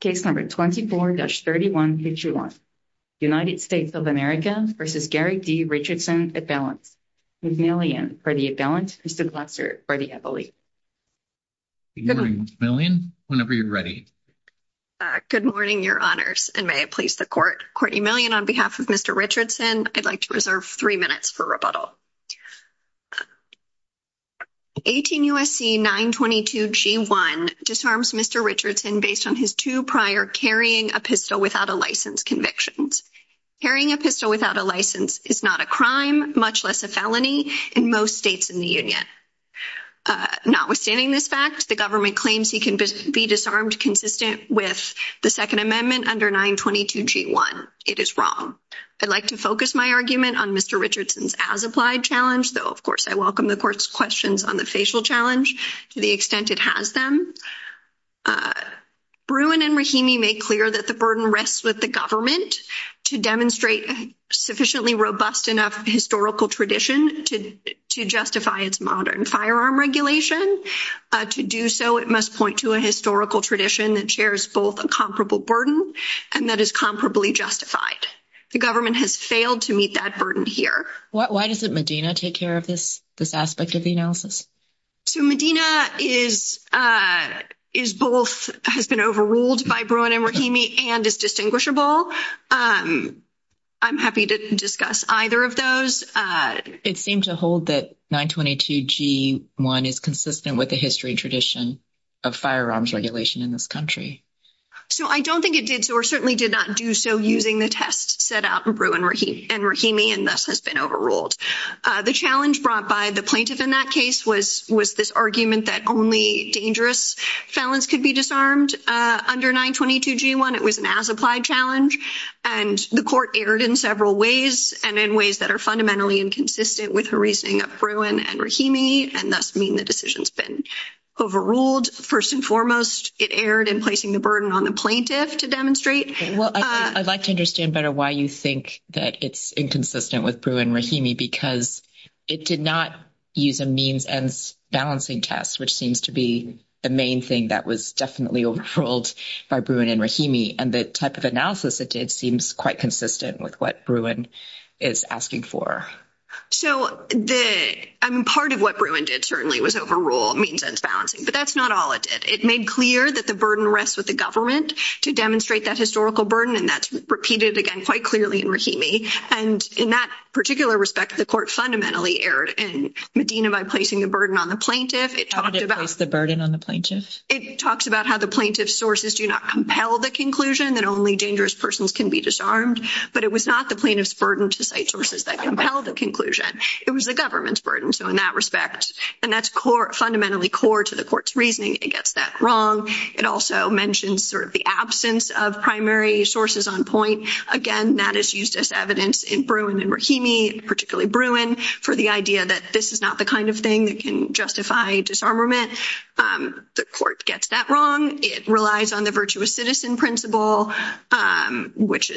Case No. 24-3151, United States of America v. Garrick D. Richardson, at-balance. Courtney Millian, for the at-balance. Mr. Glasser, for the appellate. Good morning, Ms. Millian. Whenever you're ready. Good morning, your honors, and may it please the Court. Courtney Millian, on behalf of Mr. Richardson, I'd like to reserve 3 minutes for rebuttal. 18 U.S.C. 922 G-1 disarms Mr. Richardson based on his 2 prior carrying a pistol without a license convictions. Carrying a pistol without a license is not a crime, much less a felony, in most states in the Union. Notwithstanding this fact, the government claims he can be disarmed consistent with the Second Amendment under 922 G-1. It is wrong. I'd like to focus my argument on Mr. Richardson's as-applied challenge, though of course I welcome the Court's questions on the facial challenge to the extent it has them. Bruin and Rahimi make clear that the burden rests with the government to demonstrate a sufficiently robust enough historical tradition to justify its modern firearm regulation. To do so, it must point to a historical tradition that shares both a comparable burden and that is comparably justified. The government has failed to meet that burden here. Why doesn't Medina take care of this aspect of the analysis? So Medina is, is both, has been overruled by Bruin and Rahimi and is distinguishable. I'm happy to discuss either of those. It seemed to hold that 922 G-1 is consistent with the history tradition of firearms regulation in this country. So I don't think it did, or certainly did not do so using the test set out in Bruin and Rahimi and thus has been overruled. The challenge brought by the plaintiff in that case was, was this argument that only dangerous felons could be disarmed under 922 G-1. It was an as-applied challenge and the Court erred in several ways and in ways that are fundamentally inconsistent with the reasoning of Bruin and Rahimi and thus mean the decision's been overruled. First and foremost, it erred in placing the burden on the plaintiff to demonstrate. Well, I'd like to understand better why you think that it's inconsistent with Bruin and Rahimi because it did not use a means-ends balancing test, which seems to be the main thing that was definitely overruled by Bruin and Rahimi. And the type of analysis it did seems quite consistent with what Bruin is asking for. So the, I mean, part of what Bruin did certainly was overrule means-ends balancing, but that's not all it did. It made clear that the burden rests with the government to demonstrate that historical burden, and that's repeated again, quite clearly in Rahimi. And in that particular respect, the Court fundamentally erred in Medina by placing the burden on the plaintiff. It talked about the burden on the plaintiff. It talks about how the plaintiff's sources do not compel the conclusion that only dangerous persons can be disarmed, but it was not the plaintiff's burden to cite sources that compel the conclusion. It was the government's burden. So, in that respect, and that's fundamentally core to the Court's reasoning against that wrong. It also mentions sort of the absence of primary sources on point. Again, that is used as evidence in Bruin and Rahimi, particularly Bruin, for the idea that this is not the kind of thing that can justify disarmament. The Court gets that wrong. It relies on the virtuous citizen principle, which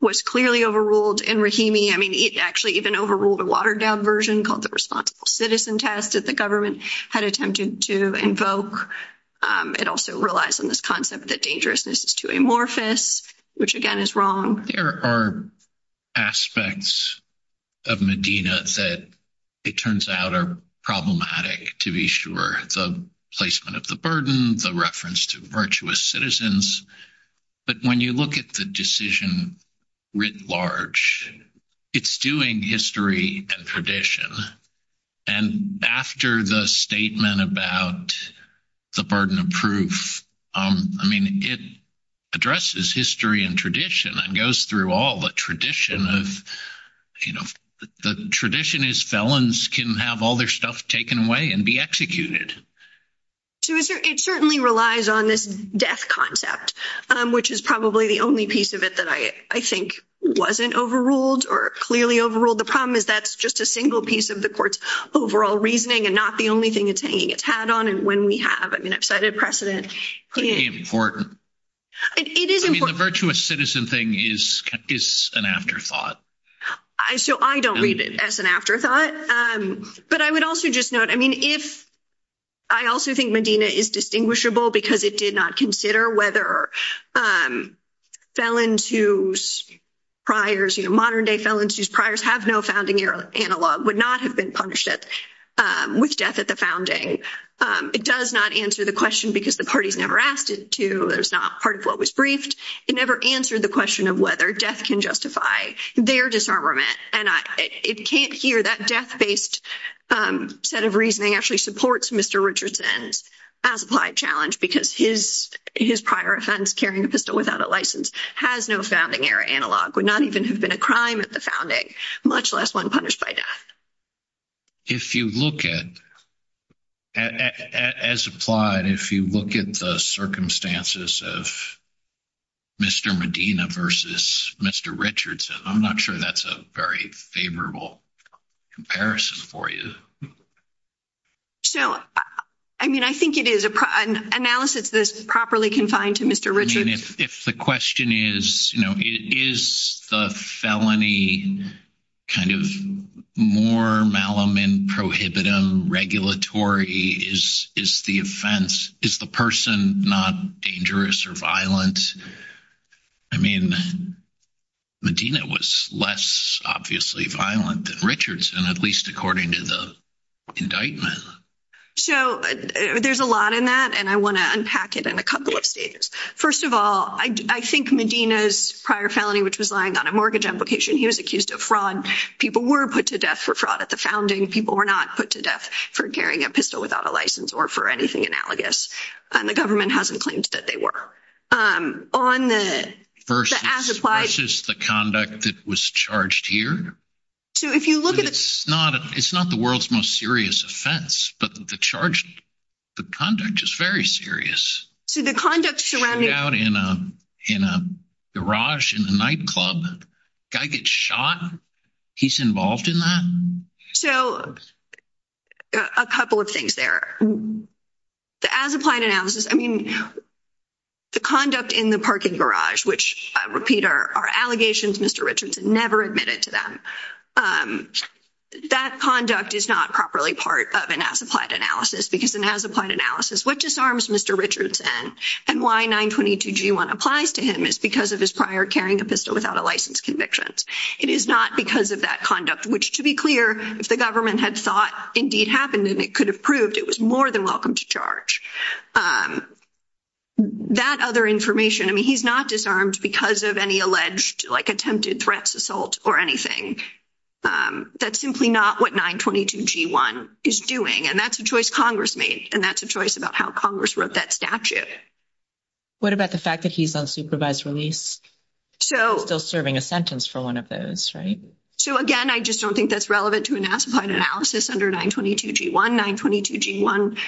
was clearly overruled in Rahimi. I mean, it actually even overruled a watered-down version called the responsible citizen test that the government had attempted to invoke. It also relies on this concept that dangerousness is too amorphous, which again is wrong. There are aspects of Medina that, it turns out, are problematic, to be sure. The placement of the burden, the reference to virtuous citizens, but when you look at the decision writ large, it's doing history and tradition. And after the statement about the burden of proof, I mean, it addresses history and tradition and goes through all the tradition of, you know, the tradition is felons can have all their stuff taken away and be executed. So it certainly relies on this death concept, which is probably the only piece of it that I think wasn't overruled or clearly overruled. The problem is that's just a single piece of the Court's overall reasoning and not the only thing it's hanging its hat on. And when we have, I mean, I've cited precedent. It is important. I mean, the virtuous citizen thing is an afterthought. So, I don't read it as an afterthought, but I would also just note, I mean, if I also think Medina is distinguishable, because it did not consider whether felons whose priors, modern day felons whose priors have no founding year analog would not have been punished with death at the founding, it does not answer the question because the party's never asked it to, there's not part of what was briefed, it never answered the question of whether death can justify this. It's their disarmament and it can't hear that death based set of reasoning actually supports Mr. Richardson's as applied challenge, because his his prior offense carrying a pistol without a license has no founding era analog would not even have been a crime at the founding, much less one punished by death. If you look at as applied, if you look at the circumstances of. Mr. Medina versus Mr. Richardson, I'm not sure that's a very favorable comparison for you. So, I mean, I think it is an analysis this properly confined to Mr. Richard if the question is, you know, is the felony. Kind of more malum and prohibitive regulatory is, is the offense is the person not dangerous or violent. I mean, Medina was less obviously violent than Richardson, at least according to the indictment. So, there's a lot in that and I want to unpack it in a couple of stages. 1st of all, I think Medina's prior felony, which was lying on a mortgage application. He was accused of fraud. People were put to death for fraud at the founding. People were not put to death for carrying a pistol without a license or for anything analogous and the government hasn't claimed that they were on the as applied is the conduct that was charged here. So, if you look at it's not, it's not the world's most serious offense, but the charge. The conduct is very serious, so the conduct surrounding out in a garage in the nightclub guy gets shot. He's involved in that, so a couple of things there. As applied analysis, I mean, the conduct in the parking garage, which repeat our allegations, Mr. Richardson never admitted to them. That conduct is not properly part of an as applied analysis, because it has applied analysis. What disarms Mr. Richardson and why 922 G1 applies to him is because of his prior carrying a pistol without a license convictions. It is not because of that conduct, which to be clear, if the government had thought indeed happened, and it could have proved it was more than welcome to charge. That other information, I mean, he's not disarmed because of any alleged attempted threats assault or anything. That's simply not what 922 G1 is doing and that's a choice Congress made and that's a choice about how Congress wrote that statute. What about the fact that he's on supervised release? So, still serving a sentence for 1 of those, right? So, again, I just don't think that's relevant to analysis under 922 G1 922 G1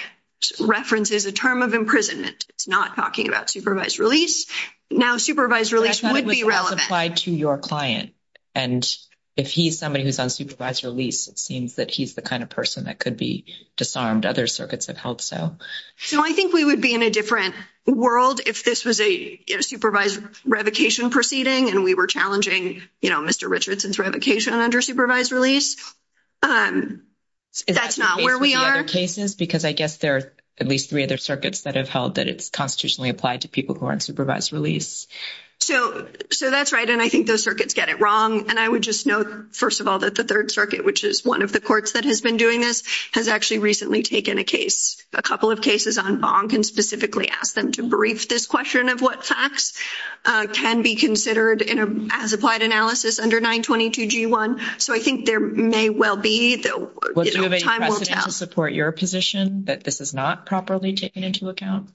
references a term of imprisonment. It's not talking about supervised release now. Supervised release would be relevant to your client. And if he's somebody who's on supervised release, it seems that he's the kind of person that could be disarmed. Other circuits have helped. So, so I think we would be in a different world. If this was a supervised revocation proceeding, and we were challenging Mr. Richardson's revocation under supervised release. That's not where we are cases, because I guess there are at least 3 other circuits that have held that. It's constitutionally applied to people who aren't supervised release. So so that's right. And I think those circuits get it wrong. And I would just note 1st of all, that the 3rd circuit, which is 1 of the courts that has been doing this has actually recently taken a case. A couple of cases on bonk and specifically ask them to brief this question of what facts can be considered as applied analysis under 922 G1. So, I think there may well be the time will support your position that this is not properly taken into account.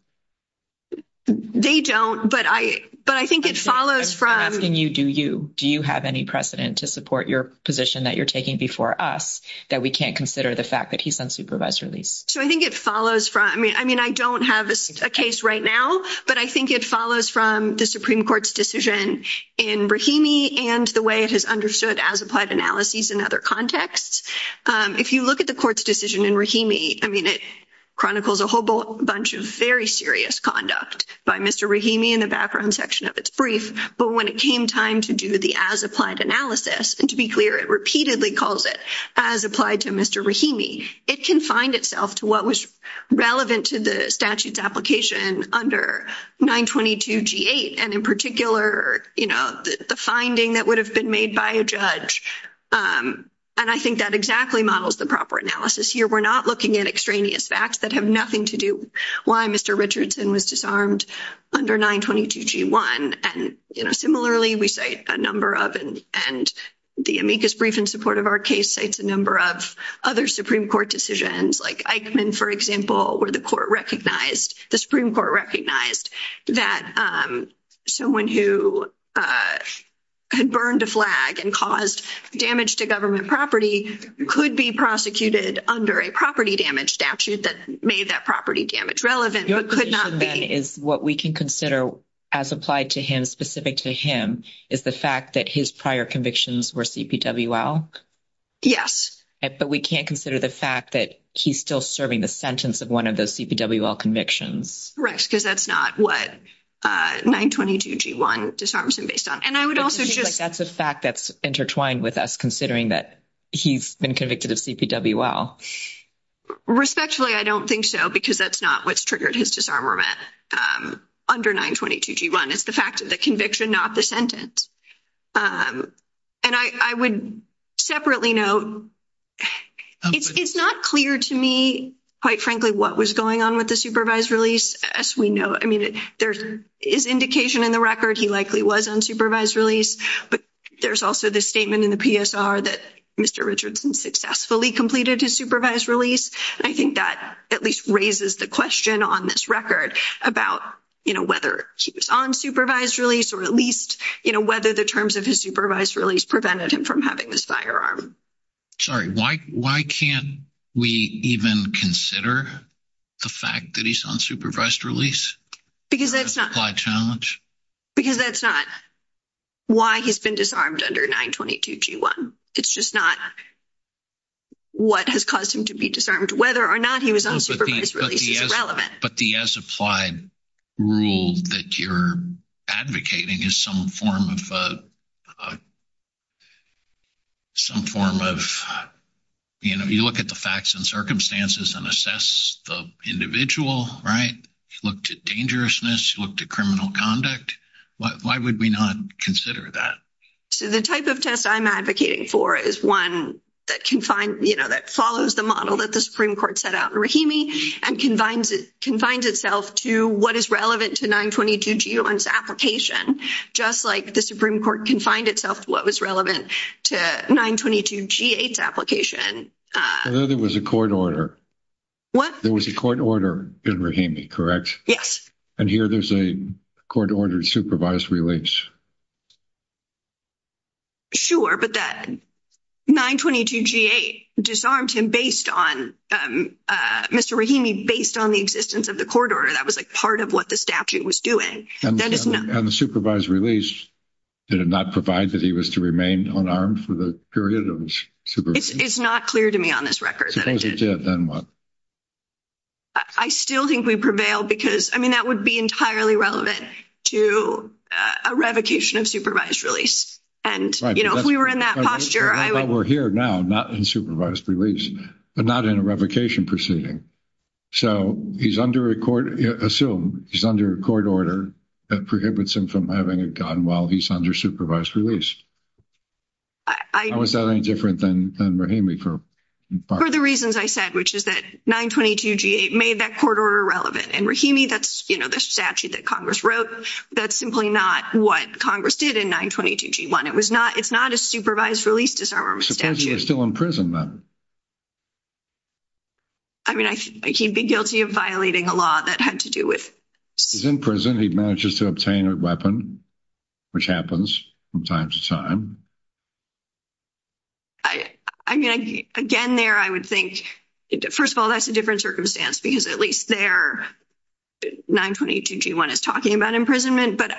They don't, but I, but I think it follows from asking you, do you do you have any precedent to support your position that you're taking before us that we can't consider the fact that he's on supervised release. So, I think it follows from I mean, I mean, I don't have a case right now, but I think it follows from the Supreme Court's decision in Rahimi and the way it has understood as applied analysis. In other contexts, if you look at the court's decision in Rahimi, I mean, it chronicles a whole bunch of very serious conduct by Mr. Rahimi in the background section of its brief. But when it came time to do the as applied analysis and to be clear, it repeatedly calls it as applied to Mr. Rahimi, it can find itself to what was relevant to the statutes application under 922 G8 and in particular, you know, the finding that would have been made by a judge. And I think that exactly models the proper analysis here. We're not looking at extraneous facts that have nothing to do why Mr. Richardson was disarmed under 922 G1. and similarly, we say a number of and and the brief in support of our case, it's a number of other Supreme Court decisions like, for example, where the court recognized the Supreme Court recognized that someone who. Had burned a flag and caused damage to government property could be prosecuted under a property damage statute that made that property damage relevant, but could not be is what we can consider as applied to him specific to him is the fact that his prior convictions were CPWL. Yes, but we can't consider the fact that he's still serving the sentence of 1 of those CPWL convictions, correct? Because that's not what 922 G1 does. Disarms him based on and I would also just like, that's a fact that's intertwined with us considering that he's been convicted of CPWL respectfully. I don't think so because that's not what's triggered his disarmament under 922 G1 is the fact of the conviction, not the sentence and I, I would separately note it's not clear to me quite frankly, what was going on with the supervised release as we know. I mean, there is indication in the record. He likely was unsupervised release, but there's also this statement in the PSR that Mr. Richardson successfully completed his supervised release. I think that at least raises the question on this record about whether he was on supervised release, or at least whether the terms of his supervised release prevented him from having this firearm. Sorry, why why can't we even consider the fact that he's on supervised release because that's not why challenge because that's not why he's been disarmed under 922 G1. it's just not what has caused him to be disarmed whether or not he was on supervised release is relevant. But the as applied rule that you're advocating is some form of some form of, you know, you look at the facts and circumstances and assess the individual, right? Look to dangerousness, look to criminal conduct. Why would we not consider that? So, the type of test I'm advocating for is 1 that can find that follows the model that the Supreme Court set out and combines it confines itself to what is relevant to 922 G1 application. Just like the Supreme Court can find itself to what was relevant to 922 G8 application. There was a court order. What there was a court order in Rahimi correct? Yes. And here there's a court ordered supervised release. Sure, but that 922 G8 disarmed him based on Mr. Rahimi based on the existence of the court order. That was like, part of what the statute was doing. That is not the supervised release. Did it not provide that he was to remain unarmed for the period? It's not clear to me on this record that I did then what. I still think we prevail because, I mean, that would be entirely relevant to a revocation of supervised release. And if we were in that posture, we're here now, not in supervised release, but not in a revocation proceeding. So, he's under a court assume he's under a court order that prohibits him from having a gun while he's under supervised release. I was that any different than Rahimi for the reasons I said, which is that 922 G8 made that court order relevant and Rahimi that's the statute that Congress wrote. That's simply not what Congress did in 922 G1. It was not. It's not a supervised release. Disarmament statute is still in prison. I mean, I, I can't be guilty of violating a law that had to do with. He's in prison, he manages to obtain a weapon. Which happens from time to time, I, I mean, again, there, I would think 1st of all, that's a different circumstance because at least there. 922 G1 is talking about imprisonment, but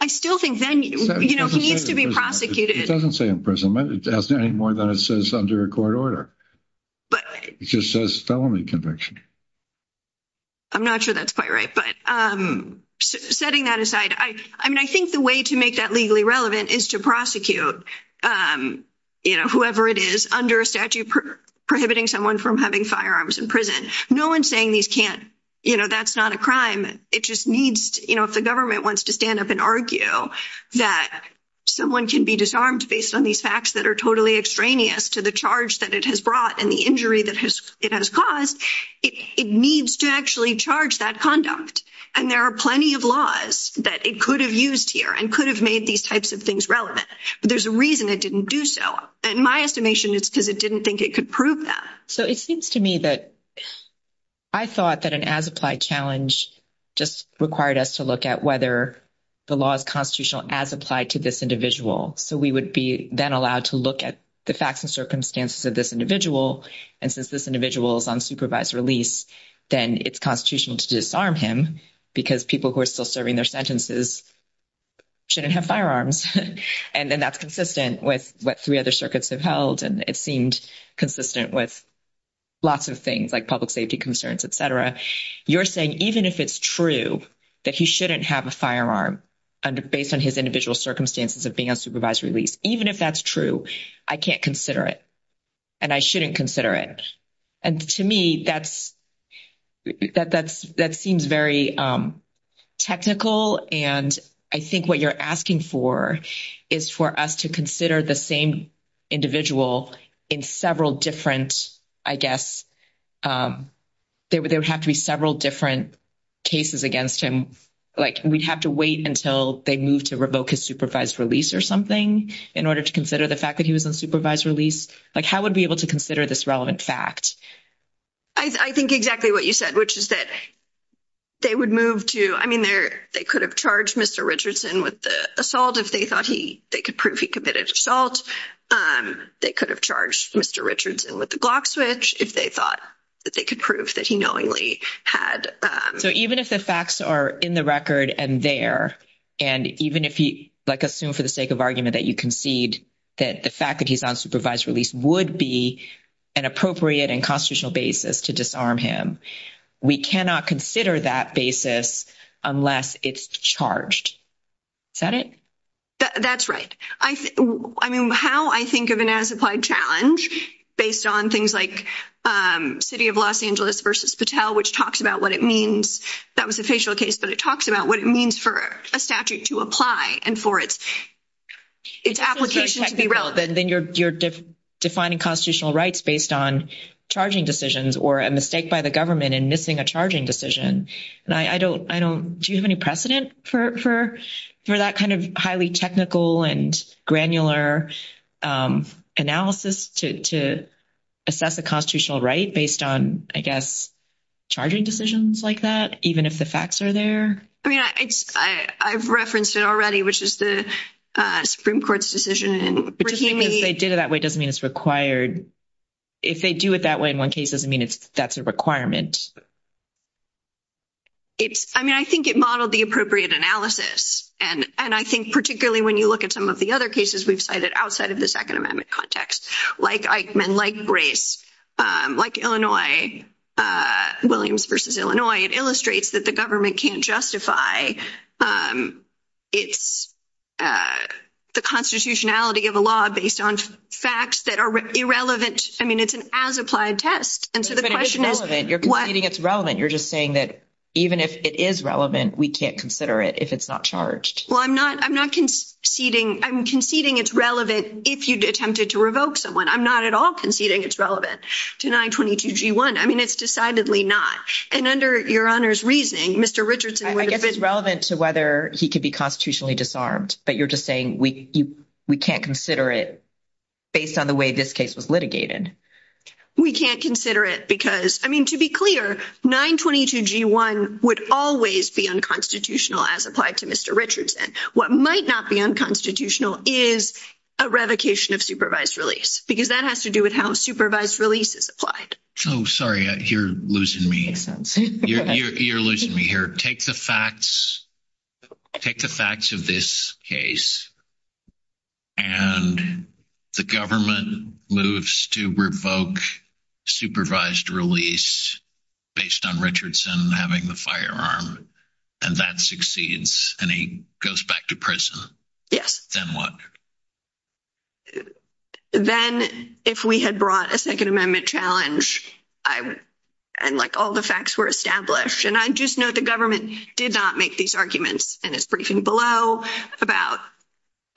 I still think then he needs to be prosecuted. It doesn't say imprisonment anymore than it says under a court order. But it just says felony conviction, I'm not sure that's quite right, but setting that aside, I, I mean, I think the way to make that legally relevant is to prosecute whoever it is under a statute prohibiting someone from having firearms in prison. No, 1 saying these can't, you know, that's not a crime. It just needs if the government wants to stand up and argue that. Someone can be disarmed based on these facts that are totally extraneous to the charge that it has brought and the injury that has it has caused it needs to actually charge that conduct. And there are plenty of laws that it could have used here and could have made these types of things relevant, but there's a reason it didn't do. So, in my estimation, it's because it didn't think it could prove that. So, it seems to me that. I thought that an as applied challenge just required us to look at whether. The law is constitutional as applied to this individual. So we would be then allowed to look at the facts and circumstances of this individual. And since this individual is on supervised release, then it's constitutional to disarm him because people who are still serving their sentences. Shouldn't have firearms and then that's consistent with what 3 other circuits have held and it seemed consistent with. Lots of things like public safety concerns, et cetera, you're saying, even if it's true that he shouldn't have a firearm. Under based on his individual circumstances of being on supervised release, even if that's true, I can't consider it. And I shouldn't consider it and to me, that's. That that's that seems very. Technical, and I think what you're asking for is for us to consider the same. Individual in several different, I guess. There would have to be several different. Cases against him, like, we'd have to wait until they move to revoke his supervised release or something in order to consider the fact that he was unsupervised release. Like, how would we able to consider this relevant fact? I think exactly what you said, which is that. They would move to, I mean, they're, they could have charged Mr. Richardson with the assault if they thought he, they could prove he committed assault. They could have charged Mr. Richardson with the Glock switch if they thought that they could prove that he knowingly had. So, even if the facts are in the record and there, and even if he, like, assume for the sake of argument that you concede that the fact that he's unsupervised release would be. An appropriate and constitutional basis to disarm him. We cannot consider that basis unless it's charged. That it that's right. I mean, how I think of an as applied challenge based on things like city of Los Angeles versus Patel, which talks about what it means. That was a facial case, but it talks about what it means for a statute to apply and for its. It's application to be relevant, then you're defining constitutional rights based on charging decisions or a mistake by the government and missing a charging decision. And I don't I don't do you have any precedent for for that kind of highly technical and granular analysis to. Assess the constitutional right based on, I guess. Charging decisions like that, even if the facts are there, I mean, I, I've referenced it already, which is the Supreme Court's decision and they did it that way. Doesn't mean it's required. If they do it that way, in 1 case doesn't mean it's that's a requirement. It's I mean, I think it modeled the appropriate analysis and and I think particularly when you look at some of the other cases, we've cited outside of the 2nd amendment context, like, like men, like grace, like, Illinois. Williams versus Illinois, it illustrates that the government can't justify. It's the constitutionality of a law based on facts that are irrelevant. I mean, it's an as applied test. And so the question is, it's relevant. You're just saying that. Even if it is relevant, we can't consider it if it's not charged. Well, I'm not I'm not conceding. I'm conceding. It's relevant. If you attempted to revoke someone, I'm not at all conceding. It's relevant to 922 G1. I mean, it's decidedly not and under your honor's reasoning. Mr. Richardson, I guess it's relevant to whether he could be constitutionally disarmed, but you're just saying we, we can't consider it. Based on the way this case was litigated, we can't consider it because, I mean, to be clear 922 G1 would always be unconstitutional as applied to Mr. Richardson. What might not be unconstitutional is a revocation of supervised release because that has to do with how supervised releases applied. Oh, sorry, you're losing me. You're losing me here. Take the facts. Take the facts of this case and the government moves to revoke supervised release. Based on Richardson having the firearm and that succeeds and he goes back to prison. Yes, then what then if we had brought a 2nd amendment challenge. And, like, all the facts were established, and I just know the government did not make these arguments and it's briefing below about.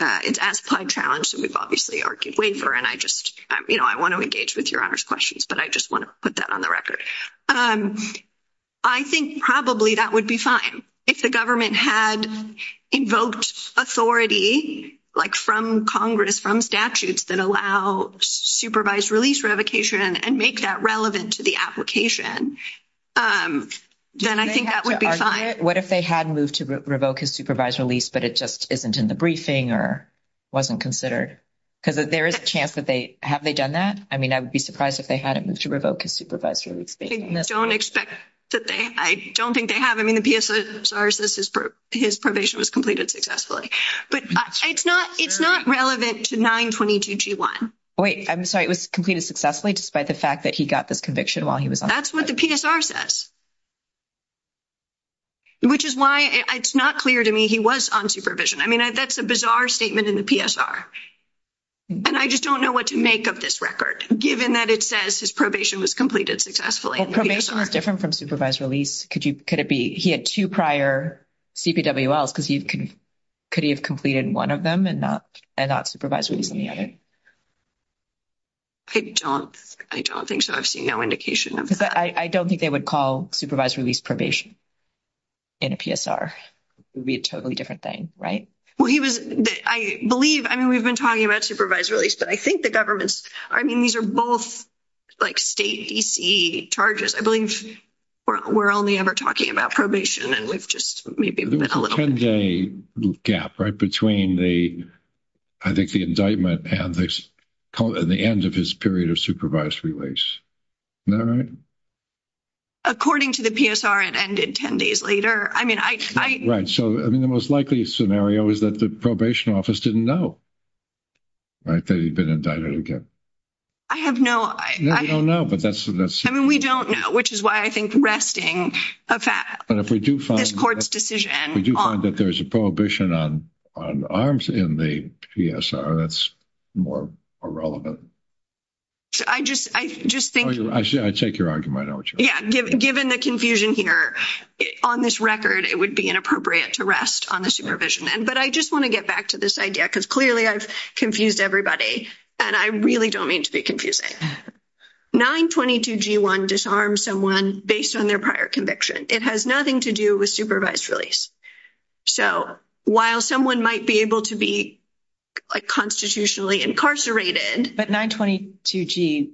It's a challenge, so we've obviously argued waiver and I just, you know, I want to engage with your honors questions, but I just want to put that on the record. I think probably that would be fine. If the government had invoked authority from Congress from statutes that allow supervised release revocation and make that relevant to the application, then I think that would be fine. What if they hadn't moved to revoke his supervised release, but it just isn't in the briefing or wasn't considered because there is a chance that they have they done that? I mean, I would be surprised if they hadn't moved to revoke his supervised release. I don't expect that. They I don't think they have. I mean, the PSR says his probation was completed successfully, but it's not it's not relevant to 922 G1. Wait, I'm sorry. It was completed successfully despite the fact that he got this conviction while he was that's what the PSR says. Which is why it's not clear to me. He was on supervision. I mean, that's a bizarre statement in the PSR. And I just don't know what to make of this record, given that it says his probation was completed successfully probation is different from supervised release. Could you could it be he had 2 prior. Because he could he have completed 1 of them and not and not supervisory. I don't I don't think so. I've seen no indication of that. I don't think they would call supervised release probation. In a PSR would be a totally different thing, right? Well, he was, I believe, I mean, we've been talking about supervised release, but I think the government's I mean, these are both. Like, state charges, I believe. We're only ever talking about probation and we've just maybe a little gap right between the. I think the indictment and the end of his period of supervised release. All right, according to the PSR and 10 days later, I mean, I, right. So, I mean, the most likely scenario is that the probation office didn't know. Right, they've been indicted again. I have no, I don't know, but that's I mean, we don't know, which is why I think resting a fact, but if we do find this court's decision, we do find that there's a prohibition on on arms in the PSR. That's. More relevant, so I just, I just think I take your argument. Yeah, given the confusion here on this record, it would be inappropriate to rest on the supervision. And but I just want to get back to this idea because clearly I've confused everybody and I really don't mean to be confusing 922 G1 disarm someone based on their prior conviction. It has nothing to do with supervised release. So, while someone might be able to be. Like, constitutionally incarcerated, but 922 G.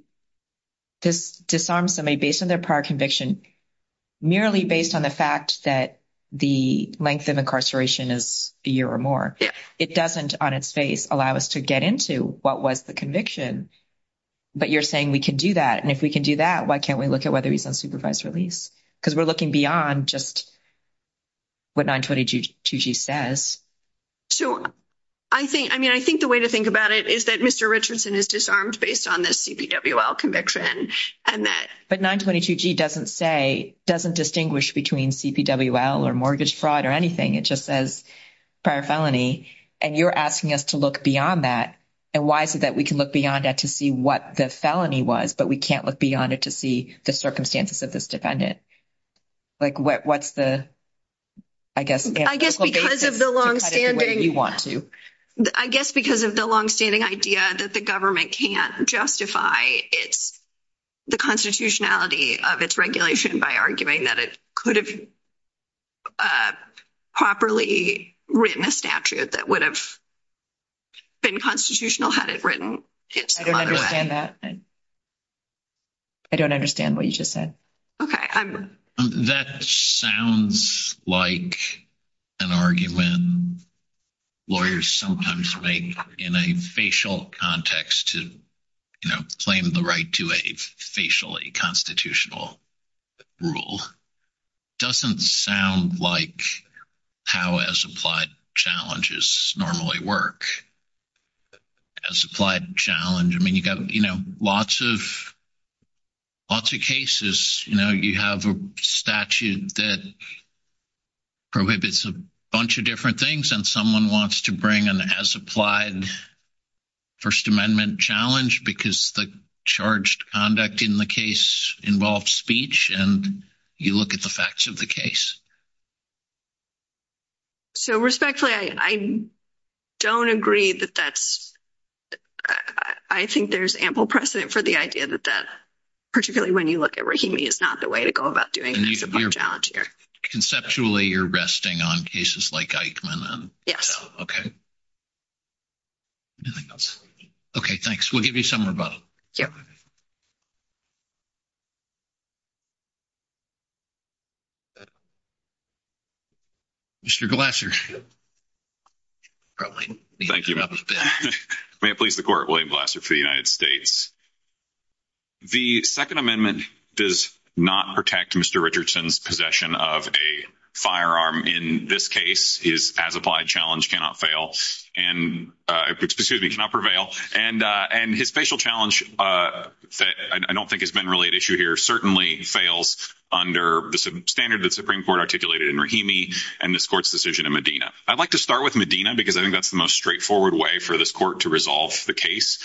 This disarm somebody based on their prior conviction. Merely based on the fact that the length of incarceration is a year or more, it doesn't on its face allow us to get into what was the conviction. But you're saying we can do that and if we can do that, why can't we look at whether he's on supervised release? Because we're looking beyond just. What 922 G says. So, I think, I mean, I think the way to think about it is that Mr. Richardson is disarmed based on this conviction and that, but 922 G doesn't say doesn't distinguish between CPWL or mortgage fraud or anything. It just says. Prior felony, and you're asking us to look beyond that. And why is it that we can look beyond that to see what the felony was, but we can't look beyond it to see the circumstances of this dependent. Like, what's the, I guess, I guess, because of the long standing you want to, I guess, because of the long standing idea that the government can't justify it's. The constitutionality of its regulation by arguing that it could have. Properly written a statute that would have. Been constitutional had it written. I don't understand that. I don't understand what you just said. Okay. I'm that sounds like. An argument lawyers sometimes make in a facial context to. You know, claim the right to a facially constitutional. Rule doesn't sound like. How as applied challenges normally work. As applied challenge, I mean, you got lots of. Lots of cases, you have a statute that. Prohibits a bunch of different things and someone wants to bring an as applied. 1st, amendment challenge, because the charged conduct in the case involves speech and you look at the facts of the case. So, respectfully, I don't agree that that's. I think there's ample precedent for the idea that that. Particularly when you look at is not the way to go about doing conceptually, you're resting on cases like yes. Okay. Okay, thanks. We'll give you some rebuttal. Yeah. Mr. Glasser. Thank you. May it please the court? William Glasser for the United States. The 2nd amendment does not protect Mr. Richardson's possession of a firearm in this case is as applied challenge cannot fail and excuse me, cannot prevail and and his facial challenge that I don't think has been related to here certainly fails under the standard that Supreme Court articulated in Rahimi and this court's decision in Medina. I'd like to start with Medina, because I think that's the most straightforward way for this court to resolve the case.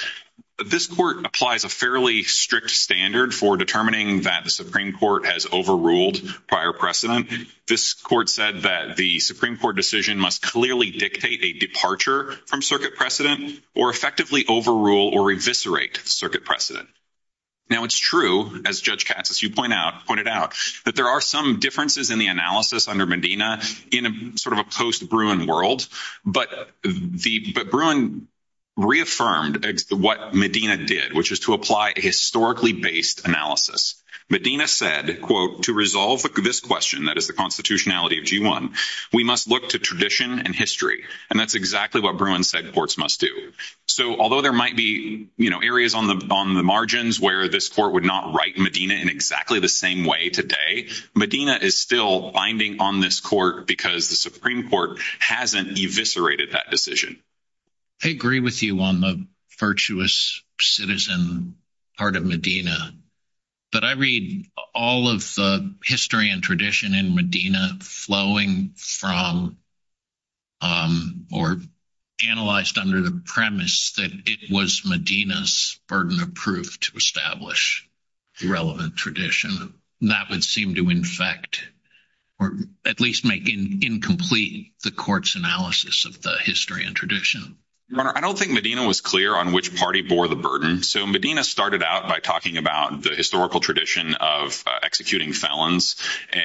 This court applies a fairly strict standard for determining that the Supreme Court has overruled prior precedent. This court said that the Supreme Court decision must clearly dictate a departure from circuit precedent or effectively overrule or eviscerate circuit precedent. Now, it's true as judge cats, as you point out, pointed out that there are some differences in the analysis under Medina in a sort of a post Bruin world. But the Bruin reaffirmed what Medina did, which is to apply historically based analysis. Medina said, quote, to resolve this question. That is the constitutionality of G1. we must look to tradition and history. And that's exactly what Bruin said. Ports must do. So, although there might be areas on the margins where this court would not write Medina in exactly the same way today. Medina is still binding on this court because the Supreme Court hasn't eviscerated that decision. I agree with you on the virtuous citizen part of Medina, but I read all of the history and tradition in Medina flowing from. Or analyzed under the premise that it was Medina's burden of proof to establish relevant tradition that would seem to infect or at least make in incomplete the court's analysis of the history and tradition. I don't think Medina was clear on which party bore the burden. So Medina started out by talking about the historical tradition of executing felons,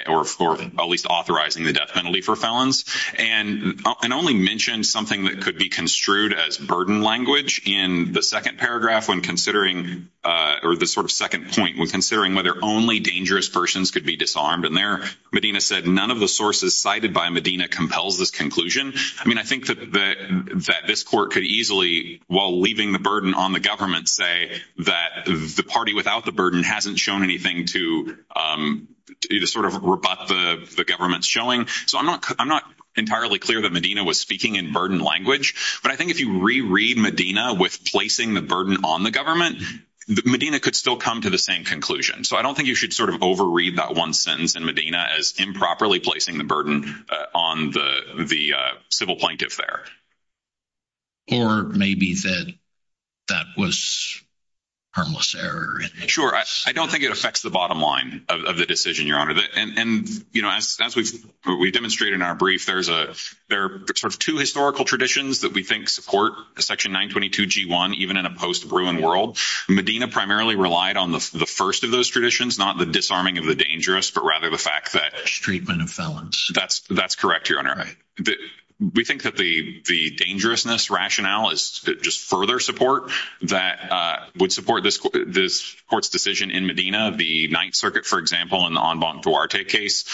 or at least authorizing the death penalty for felons and only mentioned something that could be construed as burden language in the 2nd paragraph when considering or the sort of 2nd point when considering whether only dangerous persons could be disarmed in there, Medina said, none of the sources cited by Medina compels this conclusion. I mean, I think that this court could easily, while leaving the burden on the government, say that the party without the burden hasn't shown anything to either sort of rebut the government's showing. So, I'm not entirely clear that Medina was speaking in burden language, but I think if you reread Medina with placing the burden on the government, Medina could still come to the same conclusion. So, I don't think you should sort of overread that 1 sentence in Medina as improperly placing the burden on the civil plaintiff there. Or maybe that that was harmless error. Sure, I don't think it affects the bottom line of the decision, Your Honor, and as we've demonstrated in our brief, there are sort of 2 historical traditions that we think support section 922 G1 even in a post-ruin world. Medina primarily relied on the first of those traditions, not the disarming of the dangerous, but rather the fact that... Treatment of felons. That's correct, Your Honor. We think that the dangerousness rationale is just further support that would support this court's decision in Medina. The 9th Circuit, for example, in the Anbon Duarte case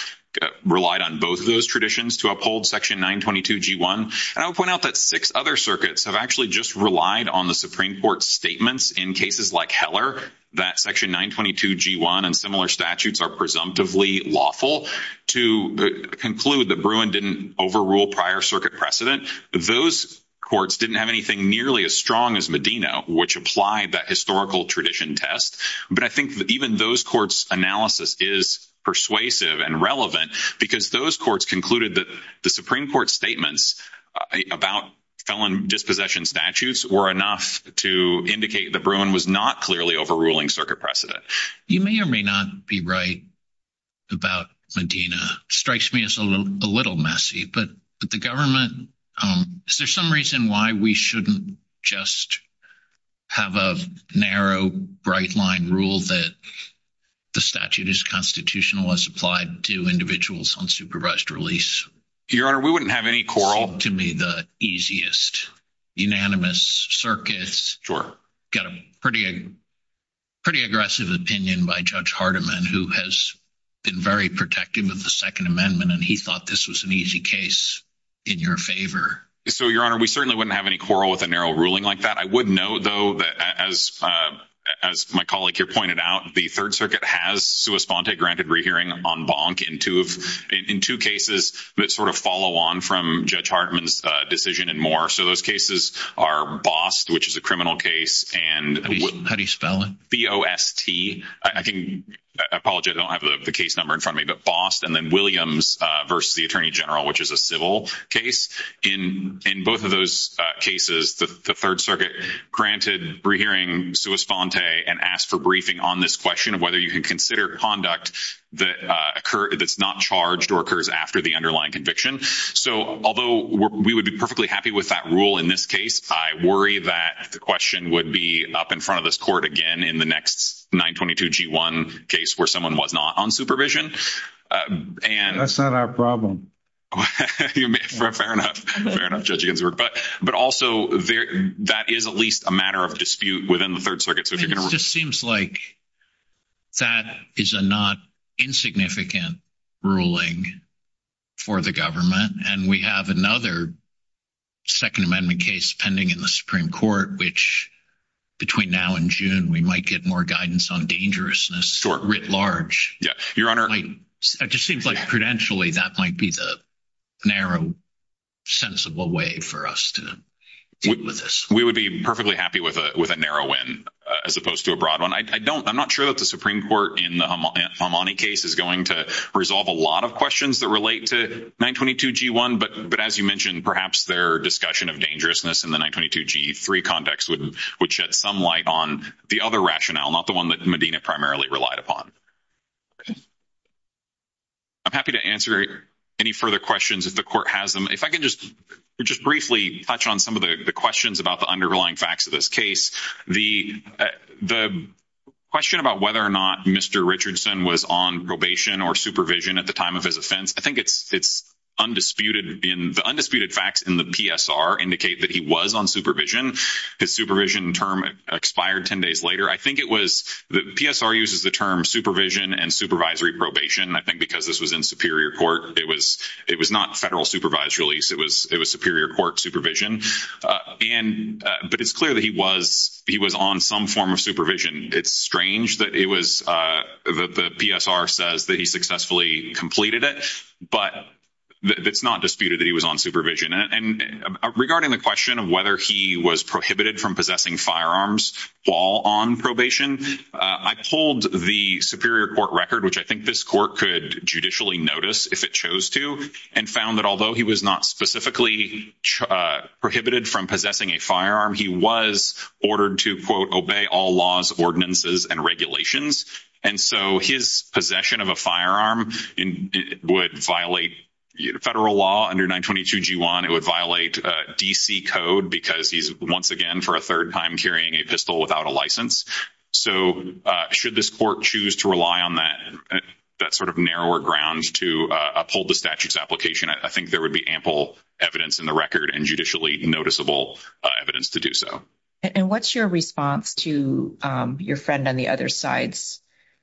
relied on both of those traditions to uphold section 922 G1. And I would point out that 6 other circuits have actually just relied on the Supreme Court's statements in cases like Heller that section 922 G1 and similar statutes are presumptively lawful to conclude that Bruin didn't overrule prior circuit precedent. Those courts didn't have anything nearly as strong as Medina, which applied that historical tradition test. But I think even those courts' analysis is persuasive and relevant because those courts concluded that the Supreme Court's statements about felon dispossession statutes were enough to indicate that Bruin was not clearly overruling circuit precedent. You may or may not be right about Medina. Strikes me as a little messy. But the government... Is there some reason why we shouldn't just have a narrow, bright-line rule that the statute is constitutional as applied to individuals on supervised release? Your Honor, we wouldn't have any quarrel. To me, the easiest, unanimous circuits. Sure. Got a pretty aggressive opinion by Judge Hardiman, who has been very protective of the Second Amendment, and he thought this was an easy case in your favor. So, Your Honor, we certainly wouldn't have any quarrel with a narrow ruling like that. I would note, though, that as my colleague here pointed out, the Third Circuit has sua sponte, granted rehearing, en banc in two cases that sort of follow on from Judge Hardiman's decision and more. So those cases are Bost, which is a criminal case, and B-O-S-T, I apologize, I don't have the case number in front of me, but Bost and then Williams versus the Attorney General, which is a civil case. In both of those cases, the Third Circuit granted rehearing sua sponte and asked for briefing on this question of whether you can consider conduct that's not charged or occurs after the underlying conviction. So, although we would be perfectly happy with that rule in this case, I worry that the question would be up in front of this Court again in the next 922G1 case where someone was not on supervision. That's not our problem. Fair enough. Fair enough, Judge Ginsburg. But also, that is at least a matter of dispute within the Third Circuit. It just seems like that is a not insignificant ruling for the government, and we have another Second Amendment case pending in the Supreme Court, which between now and June, we might get more guidance on dangerousness writ large. It just seems like, credentially, that might be the narrow, sensible way for us to deal with this. We would be perfectly happy with a narrow win as opposed to a broad one. I'm not sure that the Supreme Court in the Hamani case is going to resolve a lot of questions that relate to 922G1, but as you mentioned, perhaps their discussion of dangerousness in the 922G3 context would shed some light on the other rationale, not the one that Medina primarily relied upon. I'm happy to answer any further questions if the Court has them. If I can just briefly touch on some of the questions about the underlying facts of this case, the question about whether or not Mr. Richardson was on probation or supervision at the time of his offense, I think it's undisputed. The undisputed facts in the PSR indicate that he was on supervision. His supervision term expired 10 days later. I think it was – the PSR uses the term supervision and supervisory probation. I think because this was in superior court, it was not federal supervised release. It was superior court supervision. But it's clear that he was on some form of supervision. It's strange that it was – the PSR says that he successfully completed it, but it's not disputed that he was on supervision. And regarding the question of whether he was prohibited from possessing firearms while on probation, I pulled the superior court record, which I think this court could judicially notice if it chose to, and found that although he was not specifically prohibited from possessing a firearm, he was ordered to, quote, obey all laws, ordinances, and regulations. And so his possession of a firearm would violate federal law under 922 G1. It would violate D.C. code because he's once again for a third time carrying a pistol without a license. So should this court choose to rely on that sort of narrower ground to uphold the statute's application, I think there would be ample evidence in the record and judicially noticeable evidence to do so. And what's your response to your friend on the other side's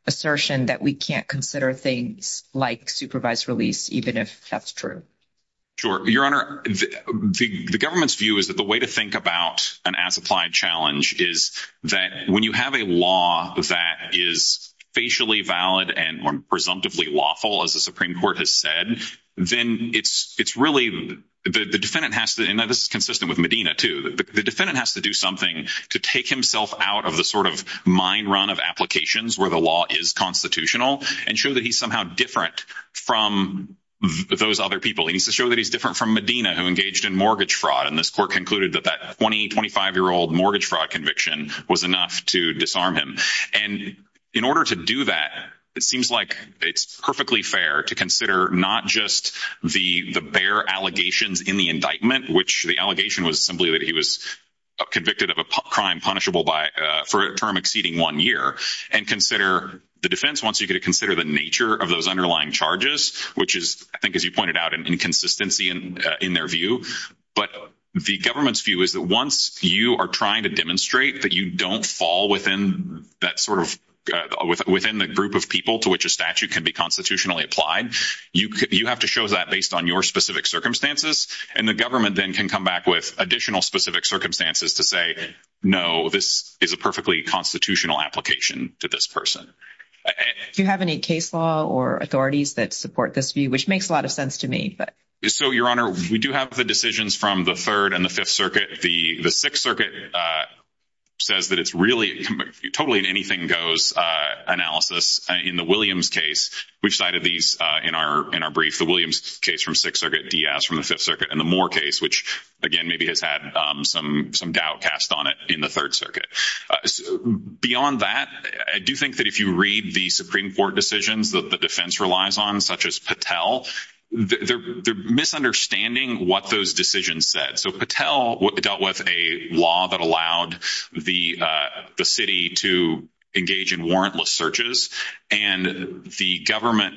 assertion that we can't consider things like supervised release, even if that's true? Sure. Your Honor, the government's view is that the way to think about an as-applied challenge is that when you have a law that is facially valid and presumptively lawful, as the Supreme Court has said, then it's really – the defendant has to – and this is consistent with Medina, too. The defendant has to do something to take himself out of the sort of mine run of applications where the law is constitutional and show that he's somehow different from those other people. He needs to show that he's different from Medina, who engaged in mortgage fraud. And this court concluded that that 20-, 25-year-old mortgage fraud conviction was enough to disarm him. And in order to do that, it seems like it's perfectly fair to consider not just the bare allegations in the indictment, which the allegation was simply that he was convicted of a crime punishable for a term exceeding one year, and consider the defense once you get to consider the nature of those underlying charges, which is, I think, as you pointed out, an inconsistency in their view. But the government's view is that once you are trying to demonstrate that you don't fall within that sort of – within the group of people to which a statute can be constitutionally applied, you have to show that based on your specific circumstances. And the government then can come back with additional specific circumstances to say, no, this is a perfectly constitutional application to this person. Do you have any case law or authorities that support this view, which makes a lot of sense to me? So, Your Honor, we do have the decisions from the Third and the Fifth Circuit. The Sixth Circuit says that it's really totally an anything-goes analysis. In the Williams case, we've cited these in our brief, the Williams case from Sixth Circuit, Diaz from the Fifth Circuit, and the Moore case, which, again, maybe has had some doubt cast on it in the Third Circuit. Beyond that, I do think that if you read the Supreme Court decisions that the defense relies on, such as Patel, they're misunderstanding what those decisions said. So, Patel dealt with a law that allowed the city to engage in warrantless searches, and the government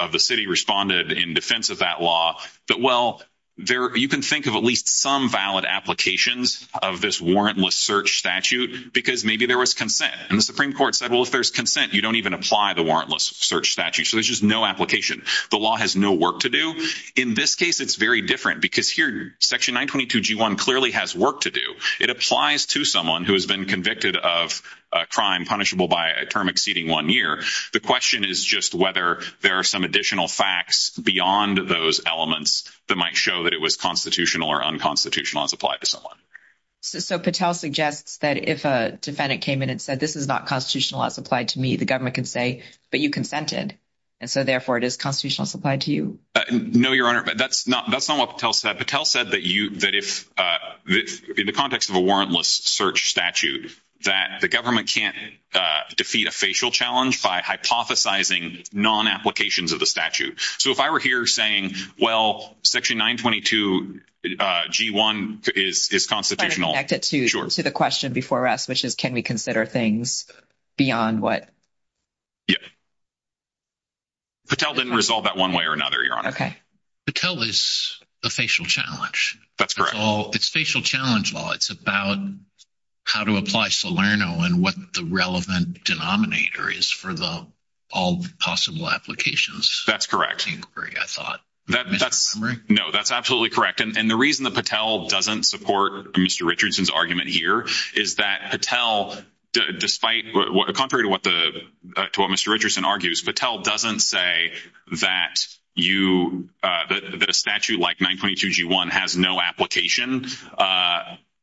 of the city responded in defense of that law. But, well, you can think of at least some valid applications of this warrantless search statute because maybe there was consent. And the Supreme Court said, well, if there's consent, you don't even apply the warrantless search statute. So, there's just no application. The law has no work to do. In this case, it's very different because here, Section 922G1 clearly has work to do. It applies to someone who has been convicted of a crime punishable by a term exceeding one year. The question is just whether there are some additional facts beyond those elements that might show that it was constitutional or unconstitutional as applied to someone. So, Patel suggests that if a defendant came in and said, this is not constitutional as applied to me, the government could say, but you consented. And so, therefore, it is constitutional as applied to you. No, Your Honor. That's not what Patel said. Patel said that if, in the context of a warrantless search statute, that the government can't defeat a facial challenge by hypothesizing non-applications of the statute. So, if I were here saying, well, Section 922G1 is constitutional. Connected to the question before us, which is can we consider things beyond what? Yeah. Patel didn't resolve that one way or another, Your Honor. Okay. Patel is a facial challenge. That's correct. It's facial challenge law. It's about how to apply Salerno and what the relevant denominator is for all possible applications. That's correct. I thought. No, that's absolutely correct. And the reason that Patel doesn't support Mr. Richardson's argument here is that Patel, contrary to what Mr. Richardson argues, Patel doesn't say that a statute like 922G1 has no application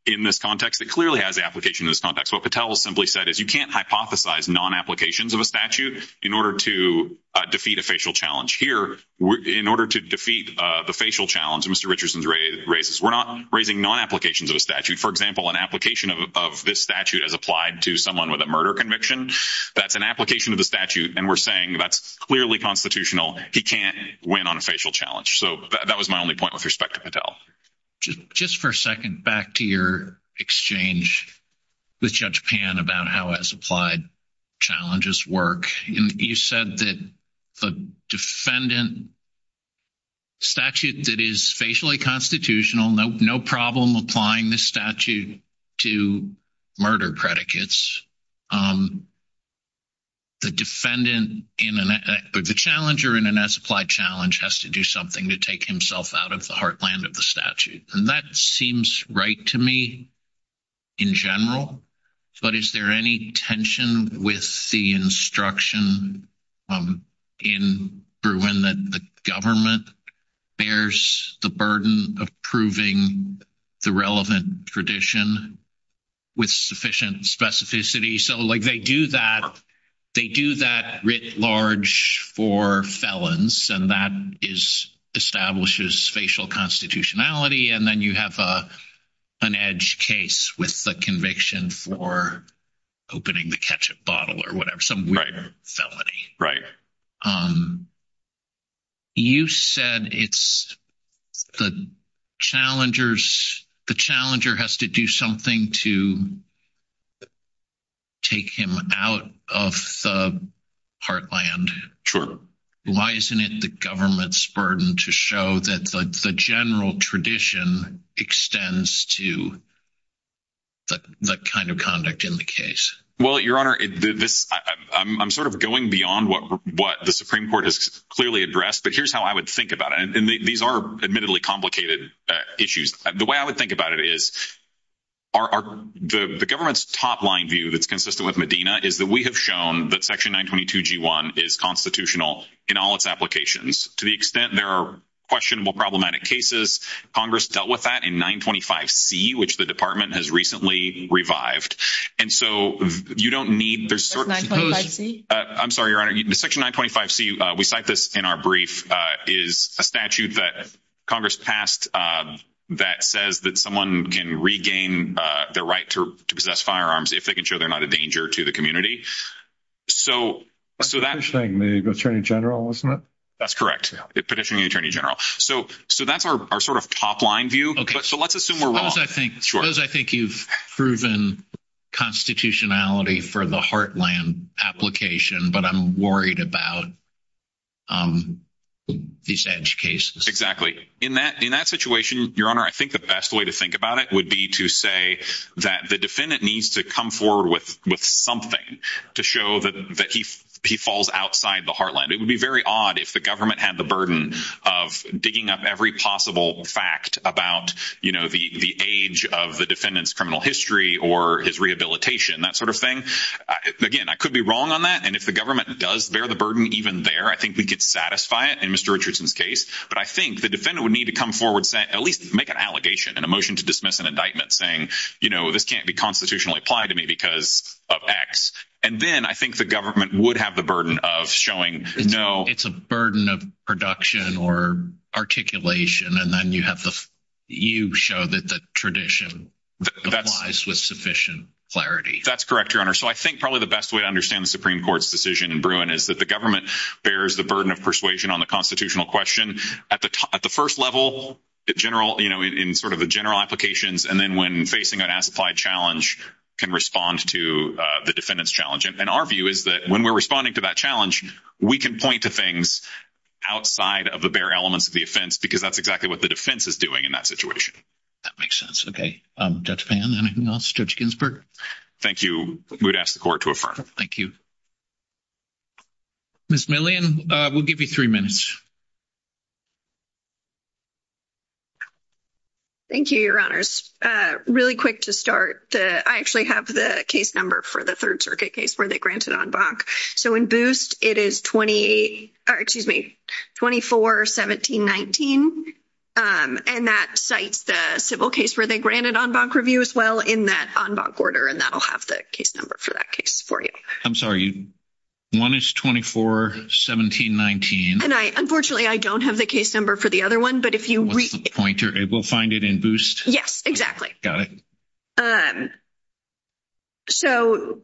in this context. It clearly has application in this context. What Patel simply said is you can't hypothesize non-applications of a statute in order to defeat a facial challenge. Here, in order to defeat the facial challenge Mr. Richardson raises, we're not raising non-applications of a statute. For example, an application of this statute as applied to someone with a murder conviction, that's an application of the statute. And we're saying that's clearly constitutional. He can't win on a facial challenge. So, that was my only point with respect to Patel. Just for a second, back to your exchange with Judge Pan about how as applied challenges work. You said that the defendant statute that is facially constitutional, no problem applying this statute to murder predicates. The defendant, the challenger in an as-applied challenge has to do something to take himself out of the heartland of the statute. And that seems right to me in general. But is there any tension with the instruction in Bruin that the government bears the burden of proving the relevant tradition with sufficient specificity? So, like, they do that writ large for felons and that establishes facial constitutionality. And then you have an edge case with the conviction for opening the ketchup bottle or whatever. Some weird felony. You said it's the challenger has to do something to take him out of the heartland. Sure. Why isn't it the government's burden to show that the general tradition extends to that kind of conduct in the case? Well, Your Honor, I'm sort of going beyond what the Supreme Court has clearly addressed. But here's how I would think about it. And these are admittedly complicated issues. The way I would think about it is the government's top line view that's consistent with Medina is that we have shown that Section 922G1 is constitutional in all its applications. To the extent there are questionable problematic cases, Congress dealt with that in 925C, which the department has recently revived. And so you don't need there's certain... What's 925C? I'm sorry, Your Honor. Section 925C, we cite this in our brief, is a statute that Congress passed that says that someone can regain their right to possess firearms if they can show they're not a danger to the community. So that... Petitioning the Attorney General, isn't it? That's correct. Petitioning the Attorney General. So that's our sort of top line view. So let's assume we're wrong. Suppose I think you've proven constitutionality for the Heartland application, but I'm worried about these EDGE cases. In that situation, Your Honor, I think the best way to think about it would be to say that the defendant needs to come forward with something to show that he falls outside the Heartland. It would be very odd if the government had the burden of digging up every possible fact about, you know, the age of the defendant's criminal history or his rehabilitation, that sort of thing. Again, I could be wrong on that, and if the government does bear the burden even there, I think we could satisfy it in Mr. Richardson's case. But I think the defendant would need to come forward, at least make an allegation and a motion to dismiss an indictment saying, you know, this can't be constitutionally applied to me because of X. And then I think the government would have the burden of showing, no. It's a burden of production or articulation, and then you show that the tradition applies with sufficient clarity. That's correct, Your Honor. So I think probably the best way to understand the Supreme Court's decision in Bruin is that the government bears the burden of persuasion on the constitutional question. At the first level, you know, in sort of the general applications, and then when facing an as-applied challenge, can respond to the defendant's challenge. And our view is that when we're responding to that challenge, we can point to things outside of the bare elements of the offense because that's exactly what the defense is doing in that situation. That makes sense. Okay. Judge Pan, anything else? Judge Ginsburg? Thank you. We would ask the Court to affirm. Thank you. Ms. Millian, we'll give you three minutes. Thank you, Your Honors. Really quick to start, I actually have the case number for the Third Circuit case where they granted en banc. So in Boost, it is 24-17-19, and that cites the civil case where they granted en banc review as well in that en banc order, and that'll have the case number for that case for you. I'm sorry. One is 24-17-19. Unfortunately, I don't have the case number for the other one. What's the pointer? We'll find it in Boost? Yes, exactly. Got it. So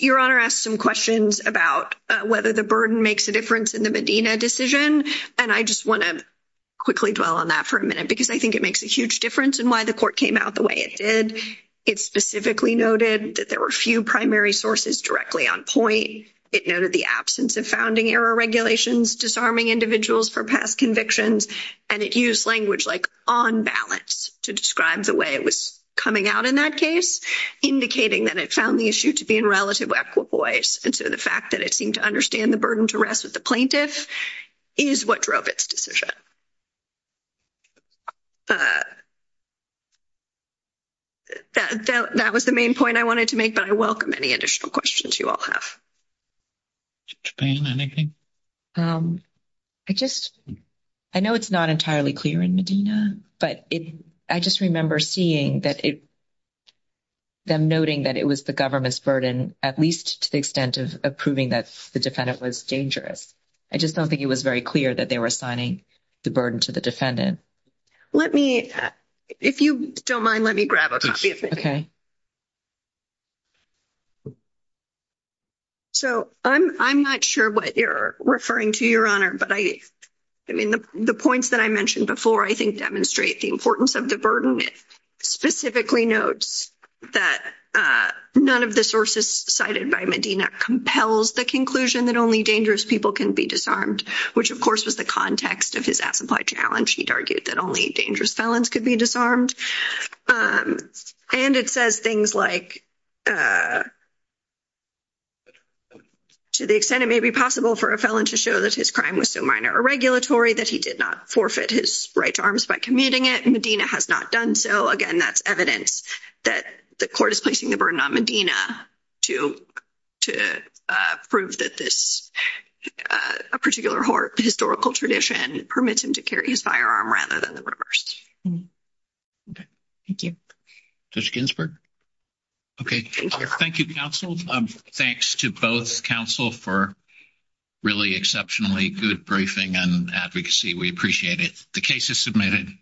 Your Honor asked some questions about whether the burden makes a difference in the Medina decision, and I just want to quickly dwell on that for a minute because I think it makes a huge difference in why the Court came out the way it did. It specifically noted that there were few primary sources directly on point. It noted the absence of founding-era regulations disarming individuals for past convictions, and it used language like on balance to describe the way it was coming out in that case, indicating that it found the issue to be in relative equitable ways. And so the fact that it seemed to understand the burden to rest with the plaintiff is what drove its decision. That was the main point I wanted to make, but I welcome any additional questions you all have. Mr. Payne, anything? I just, I know it's not entirely clear in Medina, but I just remember seeing that it, them noting that it was the government's burden, at least to the extent of proving that the defendant was dangerous. I just don't think it was very clear that they were assigning the burden to the defendant. Let me, if you don't mind, let me grab a copy of it. So I'm not sure what you're referring to, Your Honor, but I mean, the points that I mentioned before, I think, demonstrate the importance of the burden. The ruling specifically notes that none of the sources cited by Medina compels the conclusion that only dangerous people can be disarmed, which, of course, was the context of his as-implied challenge. He'd argued that only dangerous felons could be disarmed, and it says things like to the extent it may be possible for a felon to show that his crime was so minor or regulatory that he did not forfeit his right to arms by commuting it. Medina has not done so. Again, that's evidence that the court is placing the burden on Medina to prove that this, a particular historical tradition, permits him to carry his firearm rather than the reverse. Okay, thank you. Judge Ginsburg? Okay, thank you, counsel. Thanks to both counsel for really exceptionally good briefing and advocacy. We appreciate it. The case is submitted. Thank you.